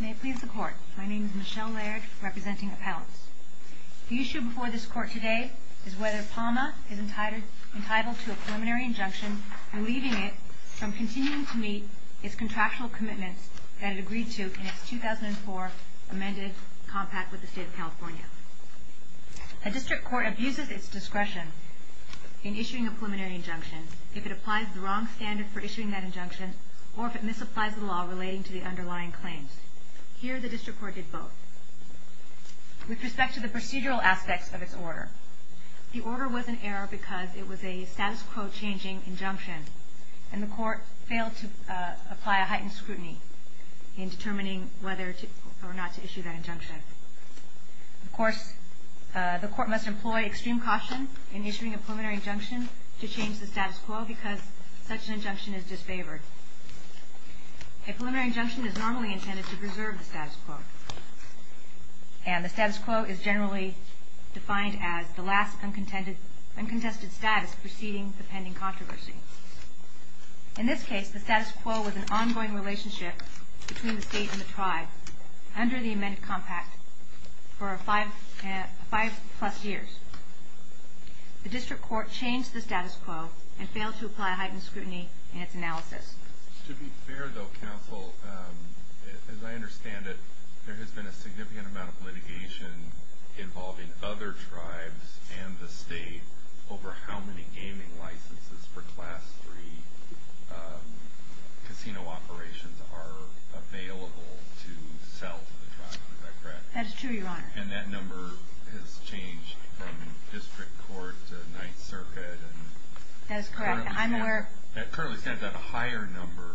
May it please the Court. My name is Michelle Laird, representing appellants. The issue before this Court today is whether PAUMA is entitled to a preliminary injunction, relieving it from continuing to meet its contractual commitments that it agreed to in its 2004 amended compact with the State of California. A district court abuses its discretion in issuing a preliminary injunction if it applies the wrong standard for issuing that injunction or if it misapplies the law relating to the underlying claims. Here, the district court did both. With respect to the procedural aspects of its order, the order was in error because it was a status quo changing injunction and the court failed to apply a heightened scrutiny in determining whether or not to issue that injunction. Of course, the court must employ extreme caution in issuing a preliminary injunction to change the status quo because such an injunction is disfavored. A preliminary injunction is normally intended to preserve the status quo and the status quo is generally defined as the last uncontested status preceding the pending controversy. In this case, the status quo was an ongoing relationship between the State and the tribe under the amended compact for five plus years. The district court changed the status quo and failed to apply a heightened scrutiny in its analysis. To be fair, though, counsel, as I understand it, there has been a significant amount of litigation involving other tribes and the State over how many gaming licenses for Class III casino operations are available to sell to the tribe. Is that correct? That is true, Your Honor. And that number has changed from district court to Ninth Circuit. That is correct. I'm aware. It currently stands at a higher number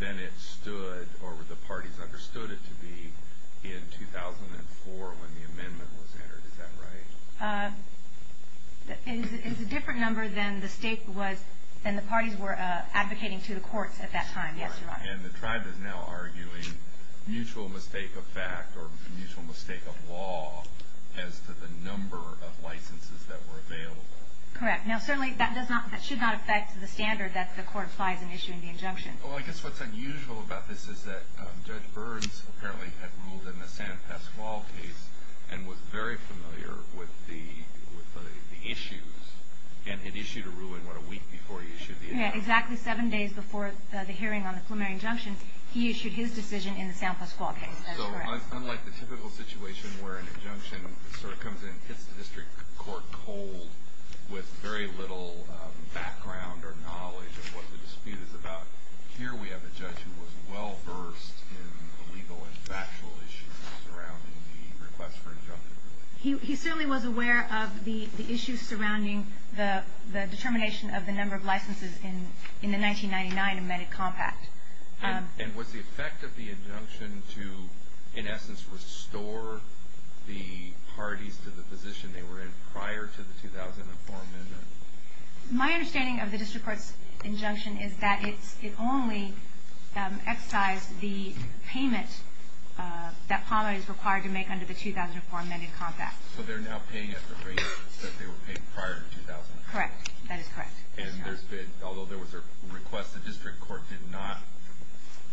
than it stood or the parties understood it to be in 2004 when the amendment was entered. Is that right? It is a different number than the parties were advocating to the courts at that time, yes, Your Honor. And the tribe is now arguing mutual mistake of fact or mutual mistake of law as to the number of licenses that were available. Correct. Now, certainly that should not affect the standard that the court applies in issuing the injunction. Well, I guess what's unusual about this is that Judge Burns apparently had ruled in the San Pasqual case and was very familiar with the issues and had issued a ruling, what, a week before he issued the injunction? Exactly seven days before the hearing on the preliminary injunction, he issued his decision in the San Pasqual case. That's correct. So unlike the typical situation where an injunction sort of comes in and hits the district court cold with very little background or knowledge of what the dispute is about, here we have a judge who was well-versed in the legal and factual issues surrounding the request for injunction. He certainly was aware of the issues surrounding the determination of the number of licenses in the 1999 amended compact. And was the effect of the injunction to, in essence, restore the parties to the position they were in prior to the 2004 amendment? My understanding of the district court's injunction is that it only excised the payment that PAMA is required to make under the 2004 amended compact. So they're now paying at the rate that they were paying prior to 2004? Correct. That is correct. And there's been, although there was a request, the district court did not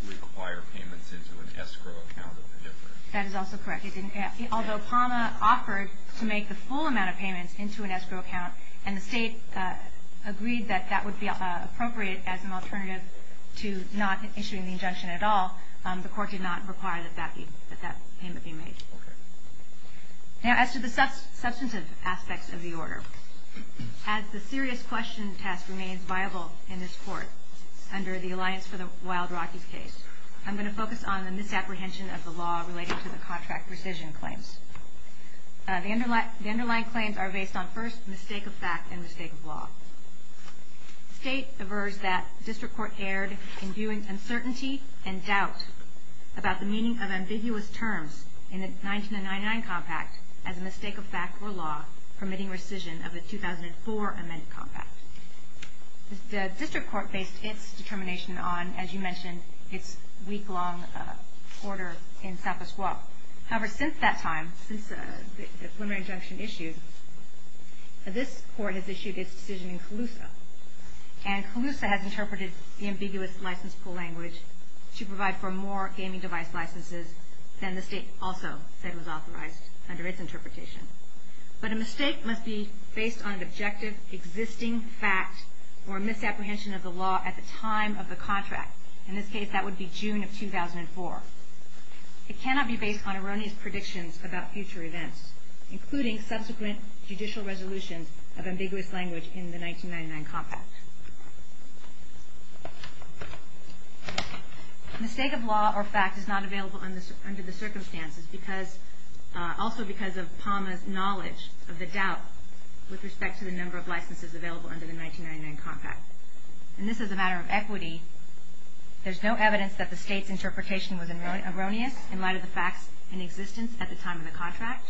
require payments into an escrow account of the district. That is also correct. It didn't, although PAMA offered to make the full amount of payments into an escrow account, and the State agreed that that would be appropriate as an alternative to not issuing the injunction at all, the court did not require that that payment be made. Okay. Now, as to the substantive aspects of the order, as the serious question test remains viable in this court under the Alliance for the Wild Rockies case, I'm going to focus on the misapprehension of the law related to the contract rescission claims. The underlying claims are based on, first, mistake of fact and mistake of law. The State avers that the district court erred in viewing uncertainty and doubt about the meaning of ambiguous terms in the 1999 compact as a mistake of fact or law, permitting rescission of the 2004 amended compact. The district court based its determination on, as you mentioned, its week-long order in San Francisco. However, since that time, since the preliminary injunction issued, this court has issued its decision in Calusa, and Calusa has interpreted the ambiguous license pool language to provide for more gaming device licenses than the State also said was authorized under its interpretation. But a mistake must be based on an objective existing fact or misapprehension of the law at the time of the contract. In this case, that would be June of 2004. It cannot be based on erroneous predictions about future events, including subsequent judicial resolutions of ambiguous language in the 1999 compact. Mistake of law or fact is not available under the circumstances, also because of PAMA's knowledge of the doubt with respect to the number of licenses available under the 1999 compact. And this is a matter of equity. There's no evidence that the State's interpretation was erroneous in light of the facts in existence at the time of the contract.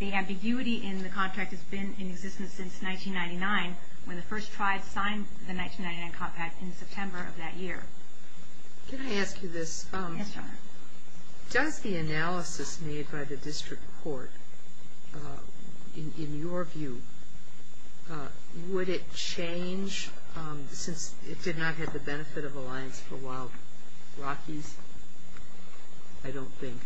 The ambiguity in the contract has been in existence since 1999 when the first tribes signed the 1999 compact in September of that year. Can I ask you this? Yes, Your Honor. Does the analysis made by the district court, in your view, would it change since it did not have the benefit of alliance for Wild Rockies? I don't think.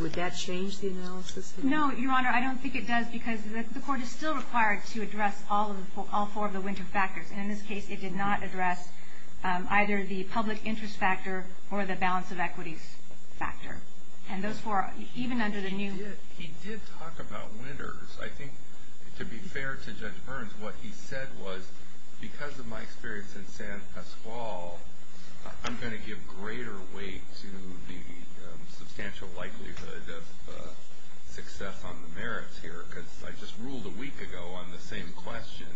Would that change the analysis? No, Your Honor, I don't think it does because the court is still required to address all four of the winter factors. And in this case, it did not address either the public interest factor or the balance of equities factor. And those four, even under the new... He did talk about winters. I think, to be fair to Judge Burns, what he said was, because of my experience in San Pasqual, I'm going to give greater weight to the substantial likelihood of success on the merits here because I just ruled a week ago on the same question.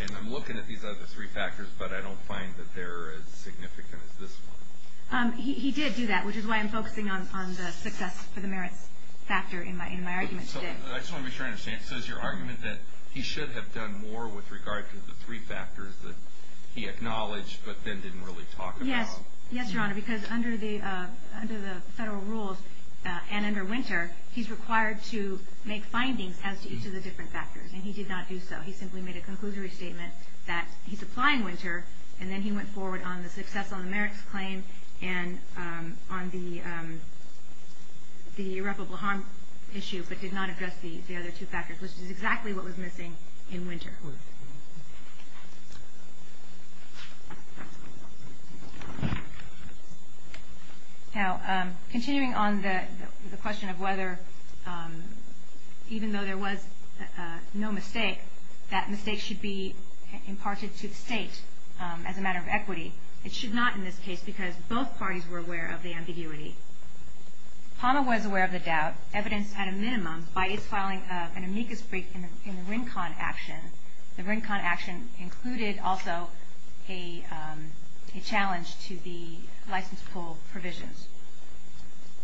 And I'm looking at these other three factors, but I don't find that they're as significant as this one. He did do that, which is why I'm focusing on the success for the merits factor in my argument today. I just want to make sure I understand. So is your argument that he should have done more with regard to the three factors that he acknowledged but then didn't really talk about? Yes, Your Honor, because under the federal rules and under winter, he's required to make findings as to each of the different factors, and he did not do so. He simply made a conclusory statement that he's applying winter, and then he went forward on the success on the merits claim and on the irreparable harm issue but did not address the other two factors, which is exactly what was missing in winter. Now, continuing on the question of whether, even though there was no mistake, that mistake should be imparted to the state as a matter of equity. It should not in this case because both parties were aware of the ambiguity. PAMA was aware of the doubt, evidenced at a minimum, by its filing of an amicus brief in the RINCON action. The RINCON action included also a challenge to the license pull provisions.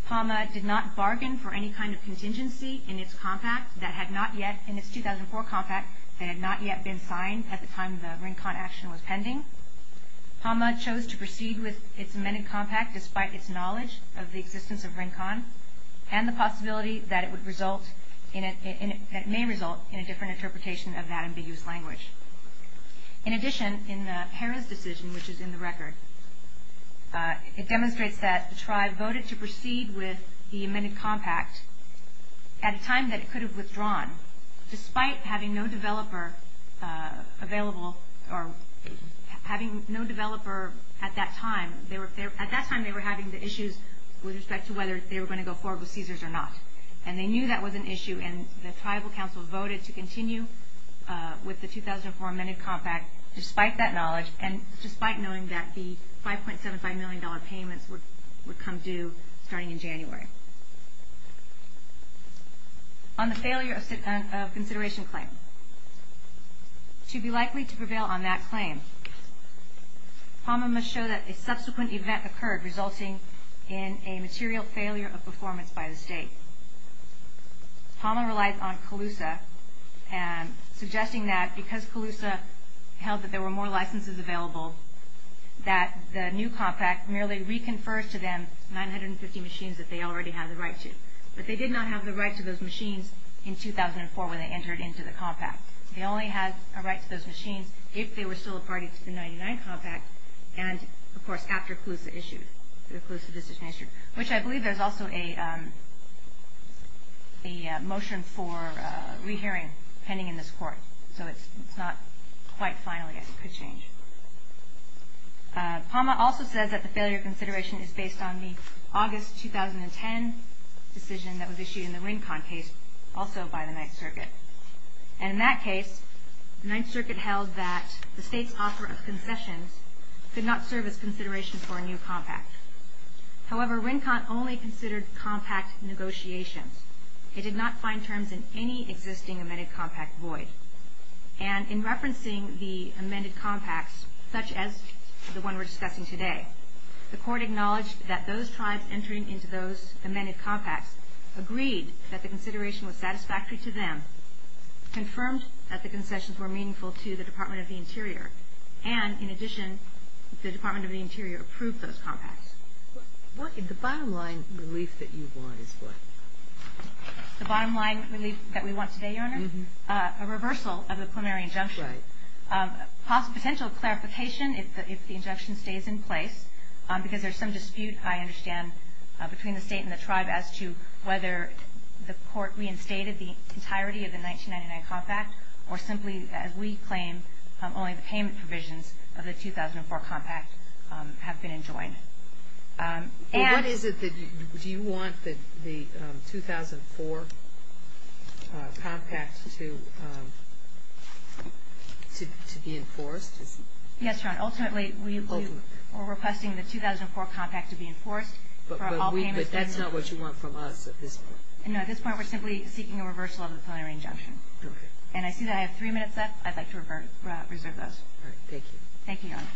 PAMA did not bargain for any kind of contingency in its compact that had not yet, in its 2004 compact, that had not yet been signed at the time the RINCON action was pending. PAMA chose to proceed with its amended compact despite its knowledge of the existence of RINCON and the possibility that it may result in a different interpretation of that ambiguous language. In addition, in the Perez decision, which is in the record, it demonstrates that the tribe voted to proceed with the amended compact at a time that it could have withdrawn, despite having no developer available or having no developer at that time. At that time, they were having the issues with respect to whether they were going to go forward with CSRS or not. And they knew that was an issue, and the tribal council voted to continue with the 2004 amended compact despite that knowledge and despite knowing that the $5.75 million payments would come due starting in January. On the failure of consideration claim, to be likely to prevail on that claim, PAMA must show that a subsequent event occurred, resulting in a material failure of performance by the state. PAMA relies on CALUSA, suggesting that because CALUSA held that there were more licenses available, that the new compact merely reconfers to them 950 machines that they already have the right to. But they did not have the right to those machines in 2004 when they entered into the compact. They only had a right to those machines if they were still a party to the 99 compact, and of course, after CALUSA issued the decision, which I believe there's also a motion for re-hearing pending in this court. So it's not quite final yet. It could change. PAMA also says that the failure of consideration is based on the August 2010 decision that was issued in the Wincott case, also by the Ninth Circuit. And in that case, the Ninth Circuit held that the state's offer of concessions could not serve as consideration for a new compact. However, Wincott only considered compact negotiations. It did not find terms in any existing amended compact void. And in referencing the amended compacts, such as the one we're discussing today, the court acknowledged that those tribes entering into those amended compacts agreed that the consideration was satisfactory to them, confirmed that the concessions were meaningful to the Department of the Interior, and in addition, the Department of the Interior approved those compacts. The bottom line relief that you want is what? The bottom line relief that we want today, Your Honor? A reversal of the preliminary injunction. Right. Potential clarification if the injunction stays in place, because there's some dispute I understand between the state and the tribe as to whether the court reinstated the entirety of the 1999 compact, or simply, as we claim, only the payment provisions of the 2004 compact have been enjoined. What is it that you want, the 2004 compact to be enforced? Yes, Your Honor. Ultimately, we're requesting the 2004 compact to be enforced for all payments. But that's not what you want from us at this point. No. At this point, we're simply seeking a reversal of the preliminary injunction. Okay. And I see that I have three minutes left. I'd like to reserve those. All right. Thank you. Thank you, Your Honor.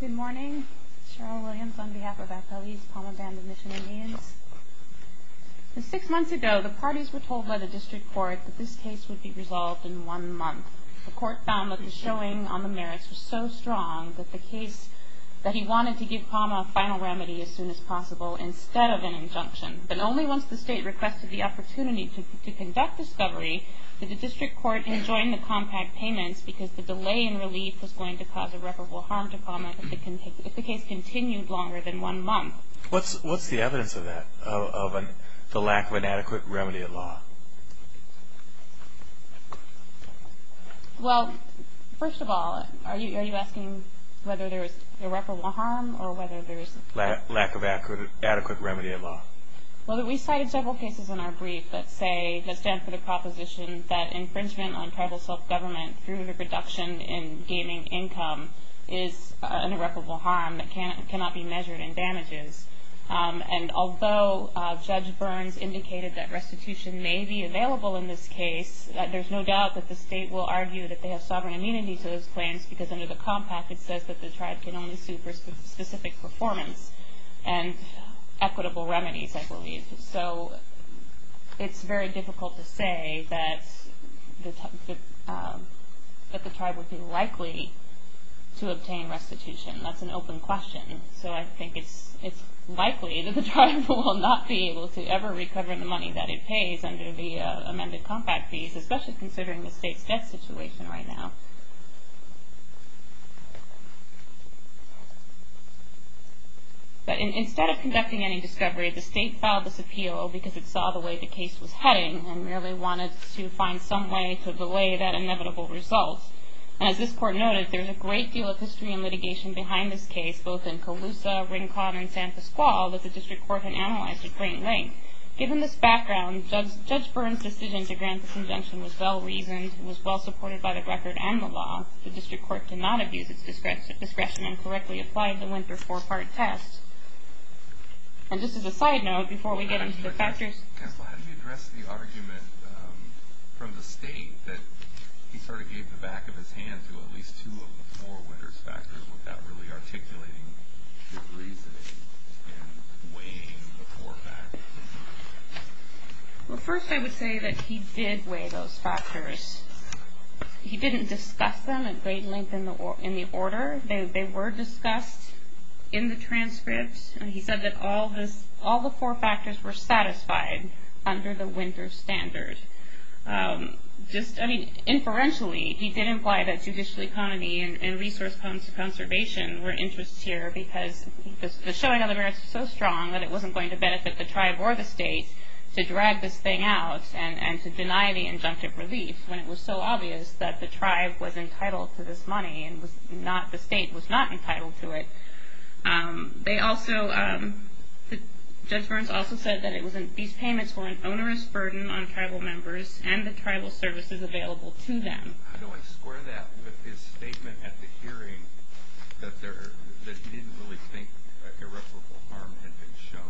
Good morning. Cheryl Williams on behalf of FLE's Palmer Band of Michigan Indians. Six months ago, the parties were told by the district court that this case would be resolved in one month. The court found that the showing on the merits was so strong that the case that he wanted to give Palmer a final remedy as soon as possible instead of an injunction. But only once the state requested the opportunity to conduct discovery did the district court enjoin the compact payments because the delay in relief was going to cause irreparable harm to Palmer if the case continued longer than one month. What's the evidence of that, of the lack of an adequate remedy at law? Well, first of all, are you asking whether there is irreparable harm or whether there is lack of adequate remedy at law? Well, we cited several cases in our brief that say, that stand for the proposition that infringement on tribal self-government through the reduction in gaining income is an irreparable harm that cannot be measured in damages. And although Judge Burns indicated that restitution may be available in this case, there's no doubt that the state will argue that they have sovereign immunity to those claims because under the compact it says that the tribe can only sue for specific performance and equitable remedies, I believe. So it's very difficult to say that the tribe would be likely to obtain restitution. That's an open question. So I think it's likely that the tribe will not be able to ever recover the money that it pays under the amended compact fees, especially considering the state's debt situation right now. But instead of conducting any discovery, the state filed this appeal because it saw the way the case was heading and really wanted to find some way to delay that inevitable result. And as this court noted, there's a great deal of history and litigation behind this case, both in Colusa, Rincon, and San Pasqual, that the district court had analyzed at great length. Given this background, Judge Burns' decision to grant this injunction was well-reasoned and was well-supported by the record and the law. The district court did not abuse its discretion and correctly applied the winter four-part test. And just as a side note, before we get into the factors... Counsel, how do you address the argument from the state that he sort of gave the back of his hand to at least two of the four winter factors without really articulating good reasoning and weighing the four factors? Well, first I would say that he did weigh those factors. He didn't discuss them at great length in the order. They were discussed in the transcripts, and he said that all the four factors were satisfied under the winter standard. Just, I mean, inferentially, he did imply that judicial economy and resource conservation were interests here because the showing of the merits was so strong that it wasn't going to benefit the tribe or the state to drag this thing out and to deny the injunctive relief when it was so obvious that the tribe was entitled to this money and the state was not entitled to it. Judge Burns also said that these payments were an onerous burden on tribal members and the tribal services available to them. How do I square that with his statement at the hearing that he didn't really think irreparable harm had been shown?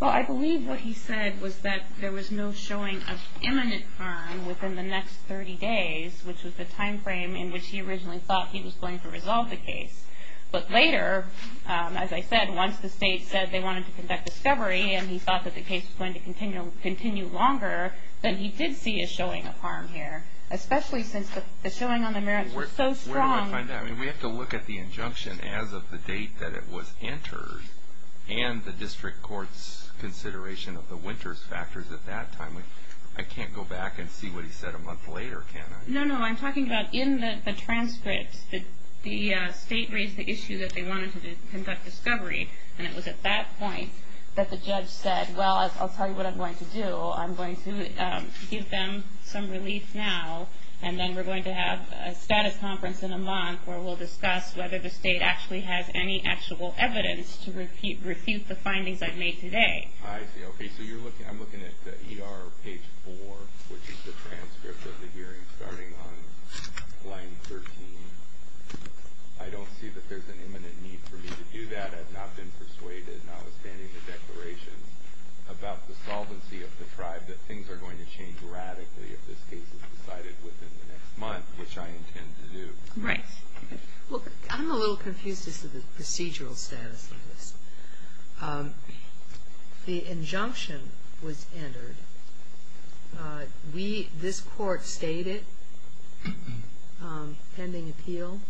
Well, I believe what he said was that there was no showing of imminent harm within the next 30 days, which was the time frame in which he originally thought he was going to resolve the case. But later, as I said, once the state said they wanted to conduct discovery and he thought that the case was going to continue longer, then he did see a showing of harm here, especially since the showing on the merits was so strong. Where do I find that? I mean, we have to look at the injunction as of the date that it was entered and the district court's consideration of the winters factors at that time. I can't go back and see what he said a month later, can I? No, no. Well, I'm talking about in the transcript, the state raised the issue that they wanted to conduct discovery, and it was at that point that the judge said, well, I'll tell you what I'm going to do. I'm going to give them some relief now, and then we're going to have a status conference in a month where we'll discuss whether the state actually has any actual evidence to refute the findings I've made today. I see. Okay, so I'm looking at the ER page 4, which is the transcript of the hearing starting on line 13. I don't see that there's an imminent need for me to do that. I've not been persuaded, notwithstanding the declaration, about the solvency of the tribe that things are going to change radically if this case is decided within the next month, which I intend to do. Right. Look, I'm a little confused as to the procedural status of this. The injunction was entered. We, this court, stayed it pending appeal,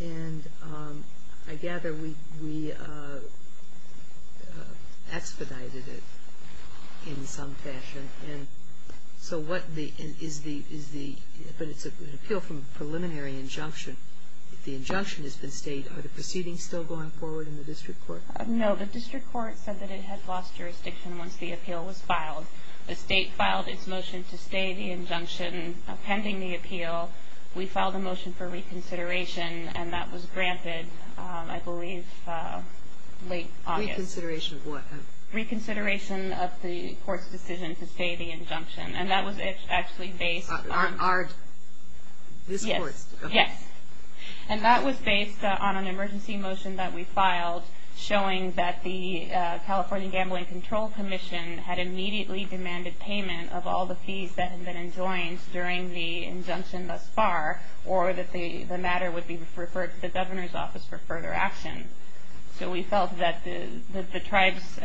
and I gather we expedited it in some fashion. And so what is the, but it's an appeal from a preliminary injunction. The injunction has been stayed. Are the proceedings still going forward in the district court? No. The district court said that it had lost jurisdiction once the appeal was filed. The state filed its motion to stay the injunction pending the appeal. We filed a motion for reconsideration, and that was granted, I believe, late August. Reconsideration of what? Reconsideration of the court's decision to stay the injunction. And that was actually based on. This court's? Yes. And that was based on an emergency motion that we filed showing that the California Gambling Control Commission had immediately demanded payment of all the fees that had been enjoined during the injunction thus far, or that the matter would be referred to the governor's office for further action. So we felt that the tribe's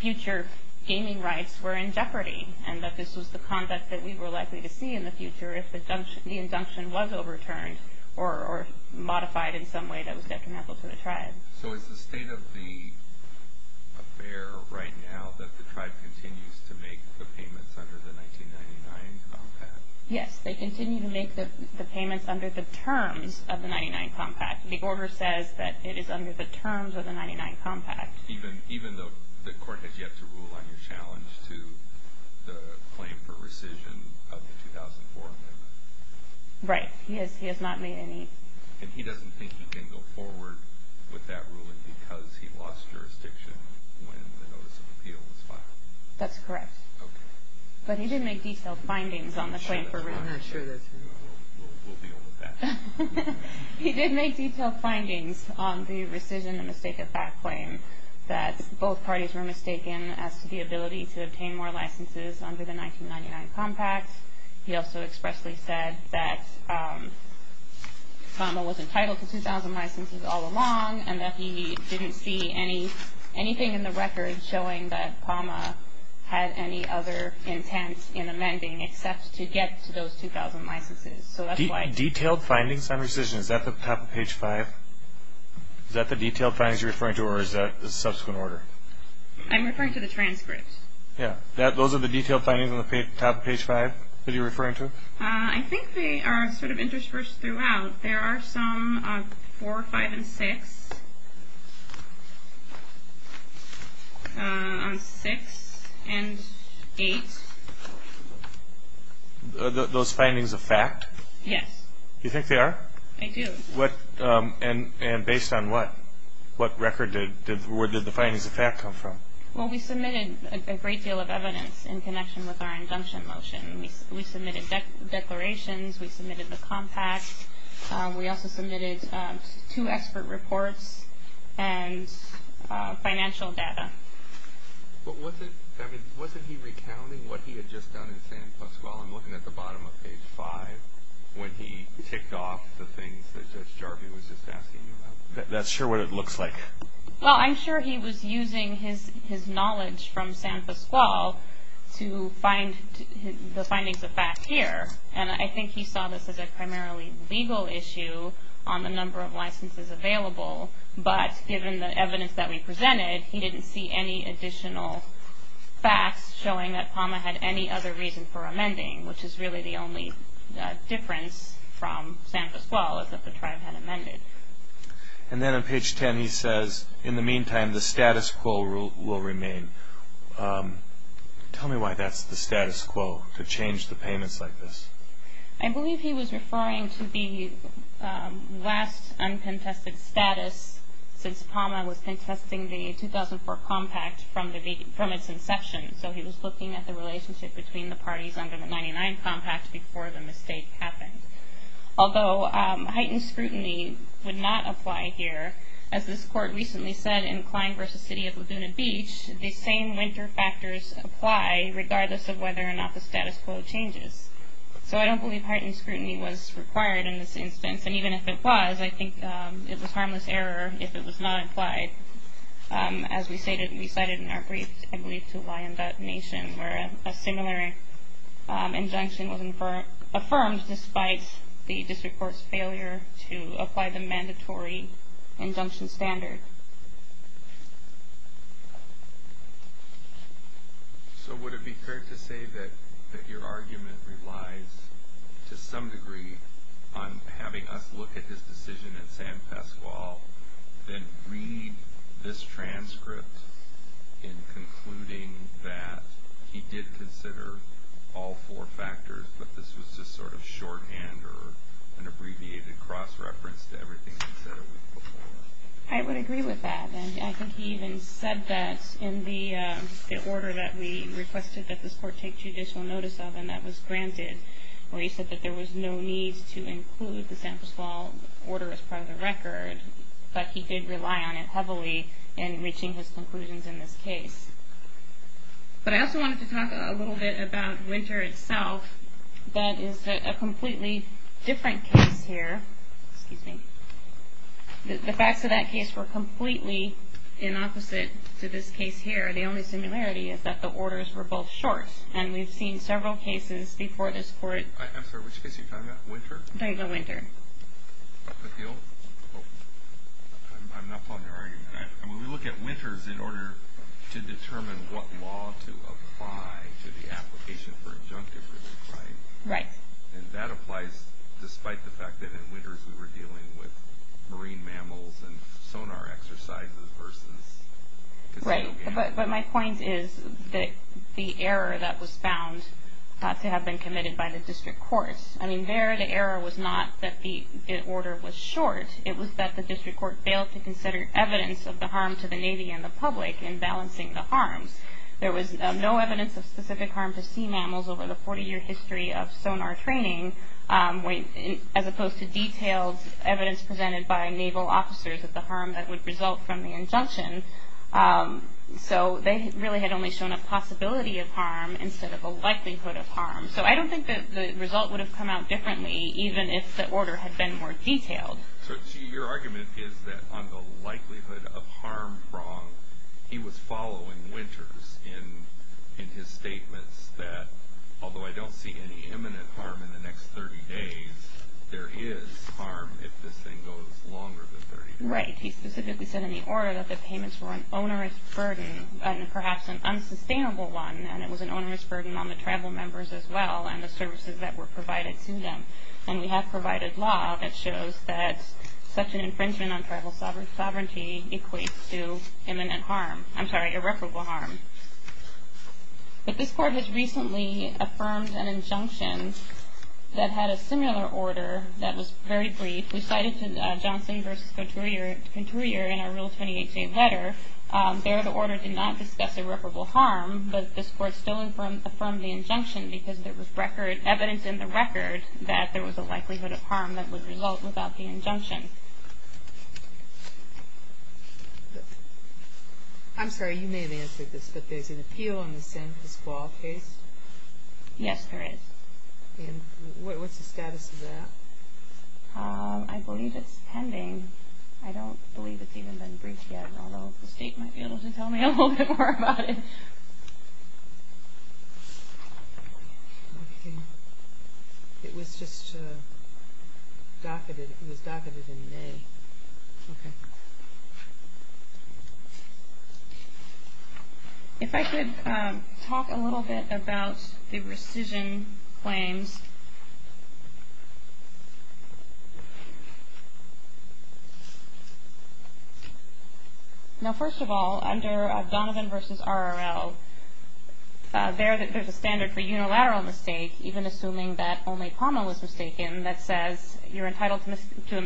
future gaming rights were in jeopardy, and that this was the conduct that we were likely to see in the future if the injunction was overturned or modified in some way that was detrimental to the tribe. So is the state of the affair right now that the tribe continues to make the payments under the 1999 compact? Yes. They continue to make the payments under the terms of the 99 compact. The order says that it is under the terms of the 99 compact. Even though the court has yet to rule on your challenge to the claim for rescission of the 2004 amendment? Right. He has not made any. And he doesn't think he can go forward with that ruling because he lost jurisdiction when the notice of appeal was filed? That's correct. Okay. But he did make detailed findings on the claim for rescission. I'm not sure that's true. We'll deal with that. He did make detailed findings on the rescission and mistake of that claim that both parties were mistaken as to the ability to obtain more licenses under the 1999 compact. He also expressly said that Kama was entitled to 2,000 licenses all along and that he didn't see anything in the record showing that Kama had any other intent in amending except to get to those 2,000 licenses. So that's why. Detailed findings on rescission. Is that at the top of page 5? Is that the detailed findings you're referring to or is that a subsequent order? I'm referring to the transcript. Yeah. Those are the detailed findings on the top of page 5 that you're referring to? I think they are sort of interspersed throughout. There are some on 4, 5, and 6. On 6 and 8. Those findings are fact? Yes. You think they are? I do. And based on what? What record did the findings of fact come from? Well, we submitted a great deal of evidence in connection with our injunction motion. We submitted declarations. We submitted the compact. We also submitted two expert reports and financial data. But wasn't he recounting what he had just done in San Pascual? I'm looking at the bottom of page 5 when he ticked off the things that Judge Jarvie was just asking you about. That's sure what it looks like. Well, I'm sure he was using his knowledge from San Pascual to find the findings of fact here. And I think he saw this as a primarily legal issue on the number of licenses available. But given the evidence that we presented, he didn't see any additional facts showing that PAMA had any other reason for amending, which is really the only difference from San Pascual is that the tribe had amended. And then on page 10 he says, in the meantime, the status quo will remain. Tell me why that's the status quo, to change the payments like this. I believe he was referring to the last uncontested status since PAMA was contesting the 2004 compact from its inception. So he was looking at the relationship between the parties under the 99 compact before the mistake happened. Although heightened scrutiny would not apply here, as this court recently said in Klein v. City of Laguna Beach, the same winter factors apply regardless of whether or not the status quo changes. So I don't believe heightened scrutiny was required in this instance. And even if it was, I think it was harmless error if it was not applied. As we cited in our brief, I believe, to Wyandotte Nation, where a similar injunction was affirmed, despite the district court's failure to apply the mandatory injunction standard. So would it be fair to say that your argument relies to some degree on having us look at his decision in San Pascual then read this transcript in concluding that he did consider all four factors, but this was just sort of shorthand or an abbreviated cross-reference to everything he said it was before? I would agree with that. And I think he even said that in the order that we requested that this court take judicial notice of, and that was granted, where he said that there was no need to include the San Pascual order as part of the record, but he did rely on it heavily in reaching his conclusions in this case. But I also wanted to talk a little bit about Winter itself. That is a completely different case here. Excuse me. The facts of that case were completely in opposite to this case here. The only similarity is that the orders were both short, and we've seen several cases before this court... I'm sorry, which case are you talking about? Winter? No, you go Winter. But the old? I'm not following your argument. I mean, we look at Winters in order to determine what law to apply to the application for injunctive relief, right? Right. And that applies despite the fact that in Winters we were dealing with marine mammals and sonar exercises versus... Right, but my point is that the error that was found ought to have been committed by the district courts. I mean, there the error was not that the order was short. It was that the district court failed to consider evidence of the harm to the Navy and the public in balancing the harms. There was no evidence of specific harm to sea mammals over the 40-year history of sonar training, as opposed to detailed evidence presented by Naval officers of the harm that would result from the injunction. So they really had only shown a possibility of harm instead of a likelihood of harm. So I don't think that the result would have come out differently even if the order had been more detailed. So your argument is that on the likelihood of harm prong, he was following Winters in his statements that, although I don't see any imminent harm in the next 30 days, there is harm if this thing goes longer than 30 days. Right. He specifically said in the order that the payments were an onerous burden and perhaps an unsustainable one, and it was an onerous burden on the tribal members as well and the services that were provided to them. And we have provided law that shows that such an infringement on tribal sovereignty equates to imminent harm. I'm sorry, irreparable harm. But this court has recently affirmed an injunction that had a similar order that was very brief. We cited Johnson v. Couturier in our Rule 28J letter. There the order did not discuss irreparable harm, but this court still affirmed the injunction because there was evidence in the record that there was a likelihood of harm that would result without the injunction. I'm sorry, you may have answered this, but there's an appeal on the San Pasquale case? Yes, there is. And what's the status of that? I believe it's pending. I don't believe it's even been briefed yet, although the state might be able to tell me a little bit more about it. It was just docketed in May. Okay. If I could talk a little bit about the rescission claims. Now, first of all, under Donovan v. RRL, there's a standard for unilateral mistake, even assuming that only common was mistaken that says you're entitled to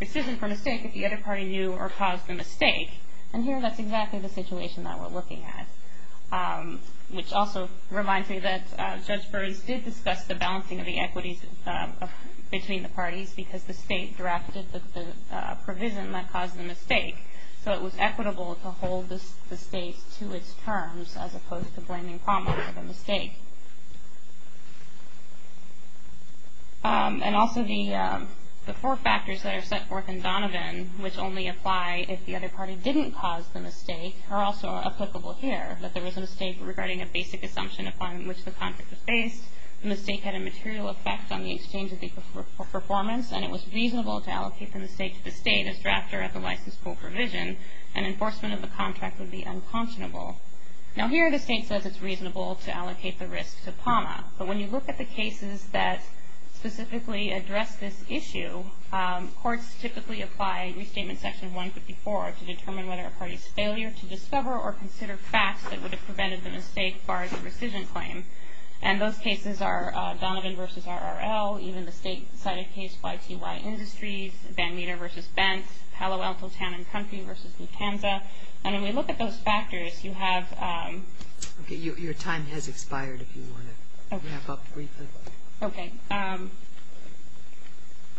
rescission for mistake if the other party knew or caused the mistake. And here that's exactly the situation that we're looking at, which also reminds me that Judge Burns did discuss the balancing of the equities between the parties because the state drafted the provision that caused the mistake. So it was equitable to hold the state to its terms as opposed to blaming common for the mistake. And also the four factors that are set forth in Donovan, which only apply if the other party didn't cause the mistake, are also applicable here, that there was a mistake regarding a basic assumption upon which the contract was based, the mistake had a material effect on the exchange of the performance, and it was reasonable to allocate the mistake to the state as drafter of the license pool provision, and enforcement of the contract would be unconscionable. Now, here the state says it's reasonable to allocate the risk to PAMA, but when you look at the cases that specifically address this issue, courts typically apply Restatement Section 154 to determine whether a party's failure to discover or consider facts that would have prevented the mistake barred the rescission claim. And those cases are Donovan v. RRL, even the state-sided case YTY Industries, Van Meter v. Bentz, Palo Alto Town and Country v. Nutanza. And when we look at those factors, you have – Okay, your time has expired if you want to wrap up briefly. Okay.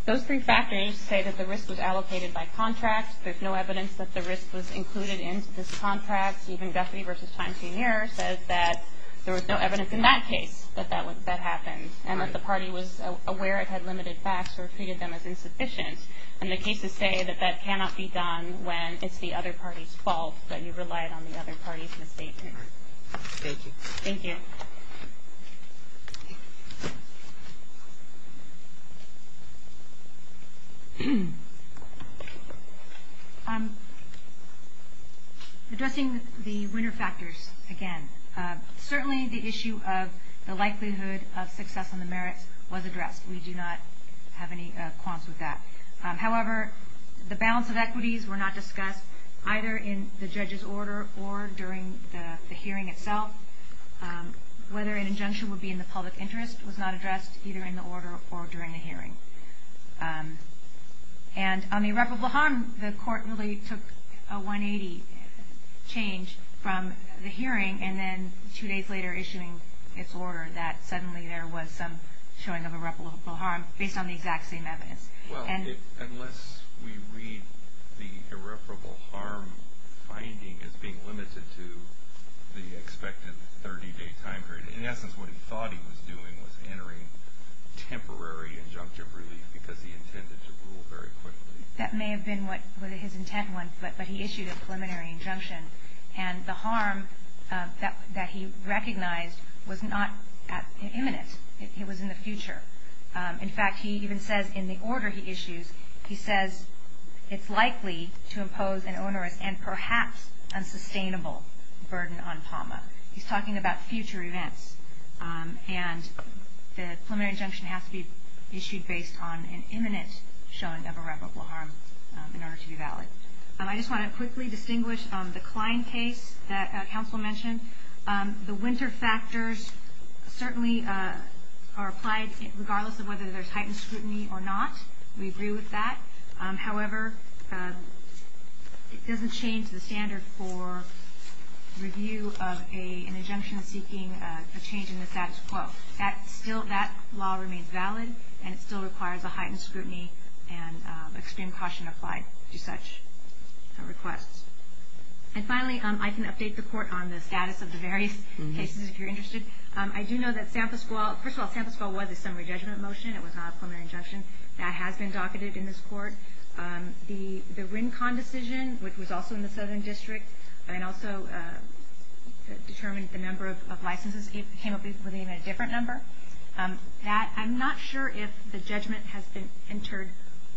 Those three factors say that the risk was allocated by contract. There's no evidence that the risk was included into this contract. Even Guffey v. Times Senior says that there was no evidence in that case that that happened and that the party was aware it had limited facts or treated them as insufficient. And the cases say that that cannot be done when it's the other party's fault, that you relied on the other party's misstatement. Thank you. Thank you. Thank you. Addressing the winner factors again, certainly the issue of the likelihood of success on the merits was addressed. We do not have any qualms with that. However, the balance of equities were not discussed either in the judge's order or during the hearing itself. Whether an injunction would be in the public interest was not addressed either in the order or during the hearing. And on irreparable harm, the court really took a 180 change from the hearing and then two days later issuing its order that suddenly there was some showing of irreparable harm based on the exact same evidence. Well, unless we read the irreparable harm finding as being limited to the expected 30-day time period, in essence what he thought he was doing was entering temporary injunctive relief because he intended to rule very quickly. That may have been what his intent was, but he issued a preliminary injunction. And the harm that he recognized was not imminent. It was in the future. In fact, he even says in the order he issues, he says it's likely to impose an onerous and perhaps unsustainable burden on PAMA. He's talking about future events. And the preliminary injunction has to be issued based on an imminent showing of irreparable harm in order to be valid. I just want to quickly distinguish the Klein case that counsel mentioned. The winter factors certainly are applied regardless of whether there's heightened scrutiny or not. We agree with that. However, it doesn't change the standard for review of an injunction seeking a change in the status quo. That law remains valid, and it still requires a heightened scrutiny and extreme caution applied to such requests. And finally, I can update the Court on the status of the various cases, if you're interested. I do know that San Francisco, first of all, San Francisco was a summary judgment motion. It was not a preliminary injunction. That has been docketed in this Court. The Rincon decision, which was also in the Southern District, and also determined the number of licenses came up with even a different number. I'm not sure if the judgment has been entered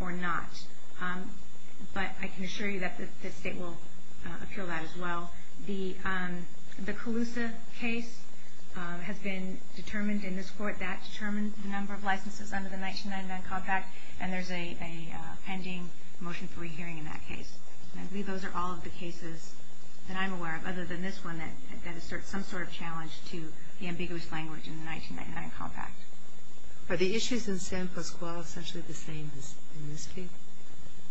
or not. But I can assure you that the State will appeal that as well. The Colusa case has been determined in this Court. That determined the number of licenses under the 1999 Compact, and there's a pending motion for re-hearing in that case. And I believe those are all of the cases that I'm aware of other than this one that asserts some sort of challenge to the ambiguous language in the 1999 Compact. Are the issues in San Pasquale essentially the same as in this case?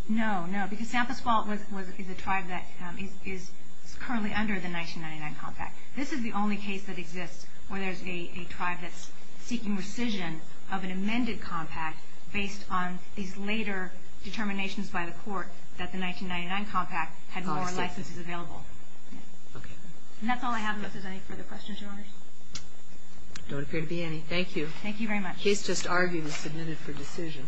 No, no. Because San Pasquale is a tribe that is currently under the 1999 Compact. This is the only case that exists where there's a tribe that's seeking rescission of an amended compact based on these later determinations by the Court that the 1999 Compact had more licenses available. Okay. And that's all I have. If there's any further questions, Your Honors. There don't appear to be any. Thank you. Thank you very much. Case just argued and submitted for decision.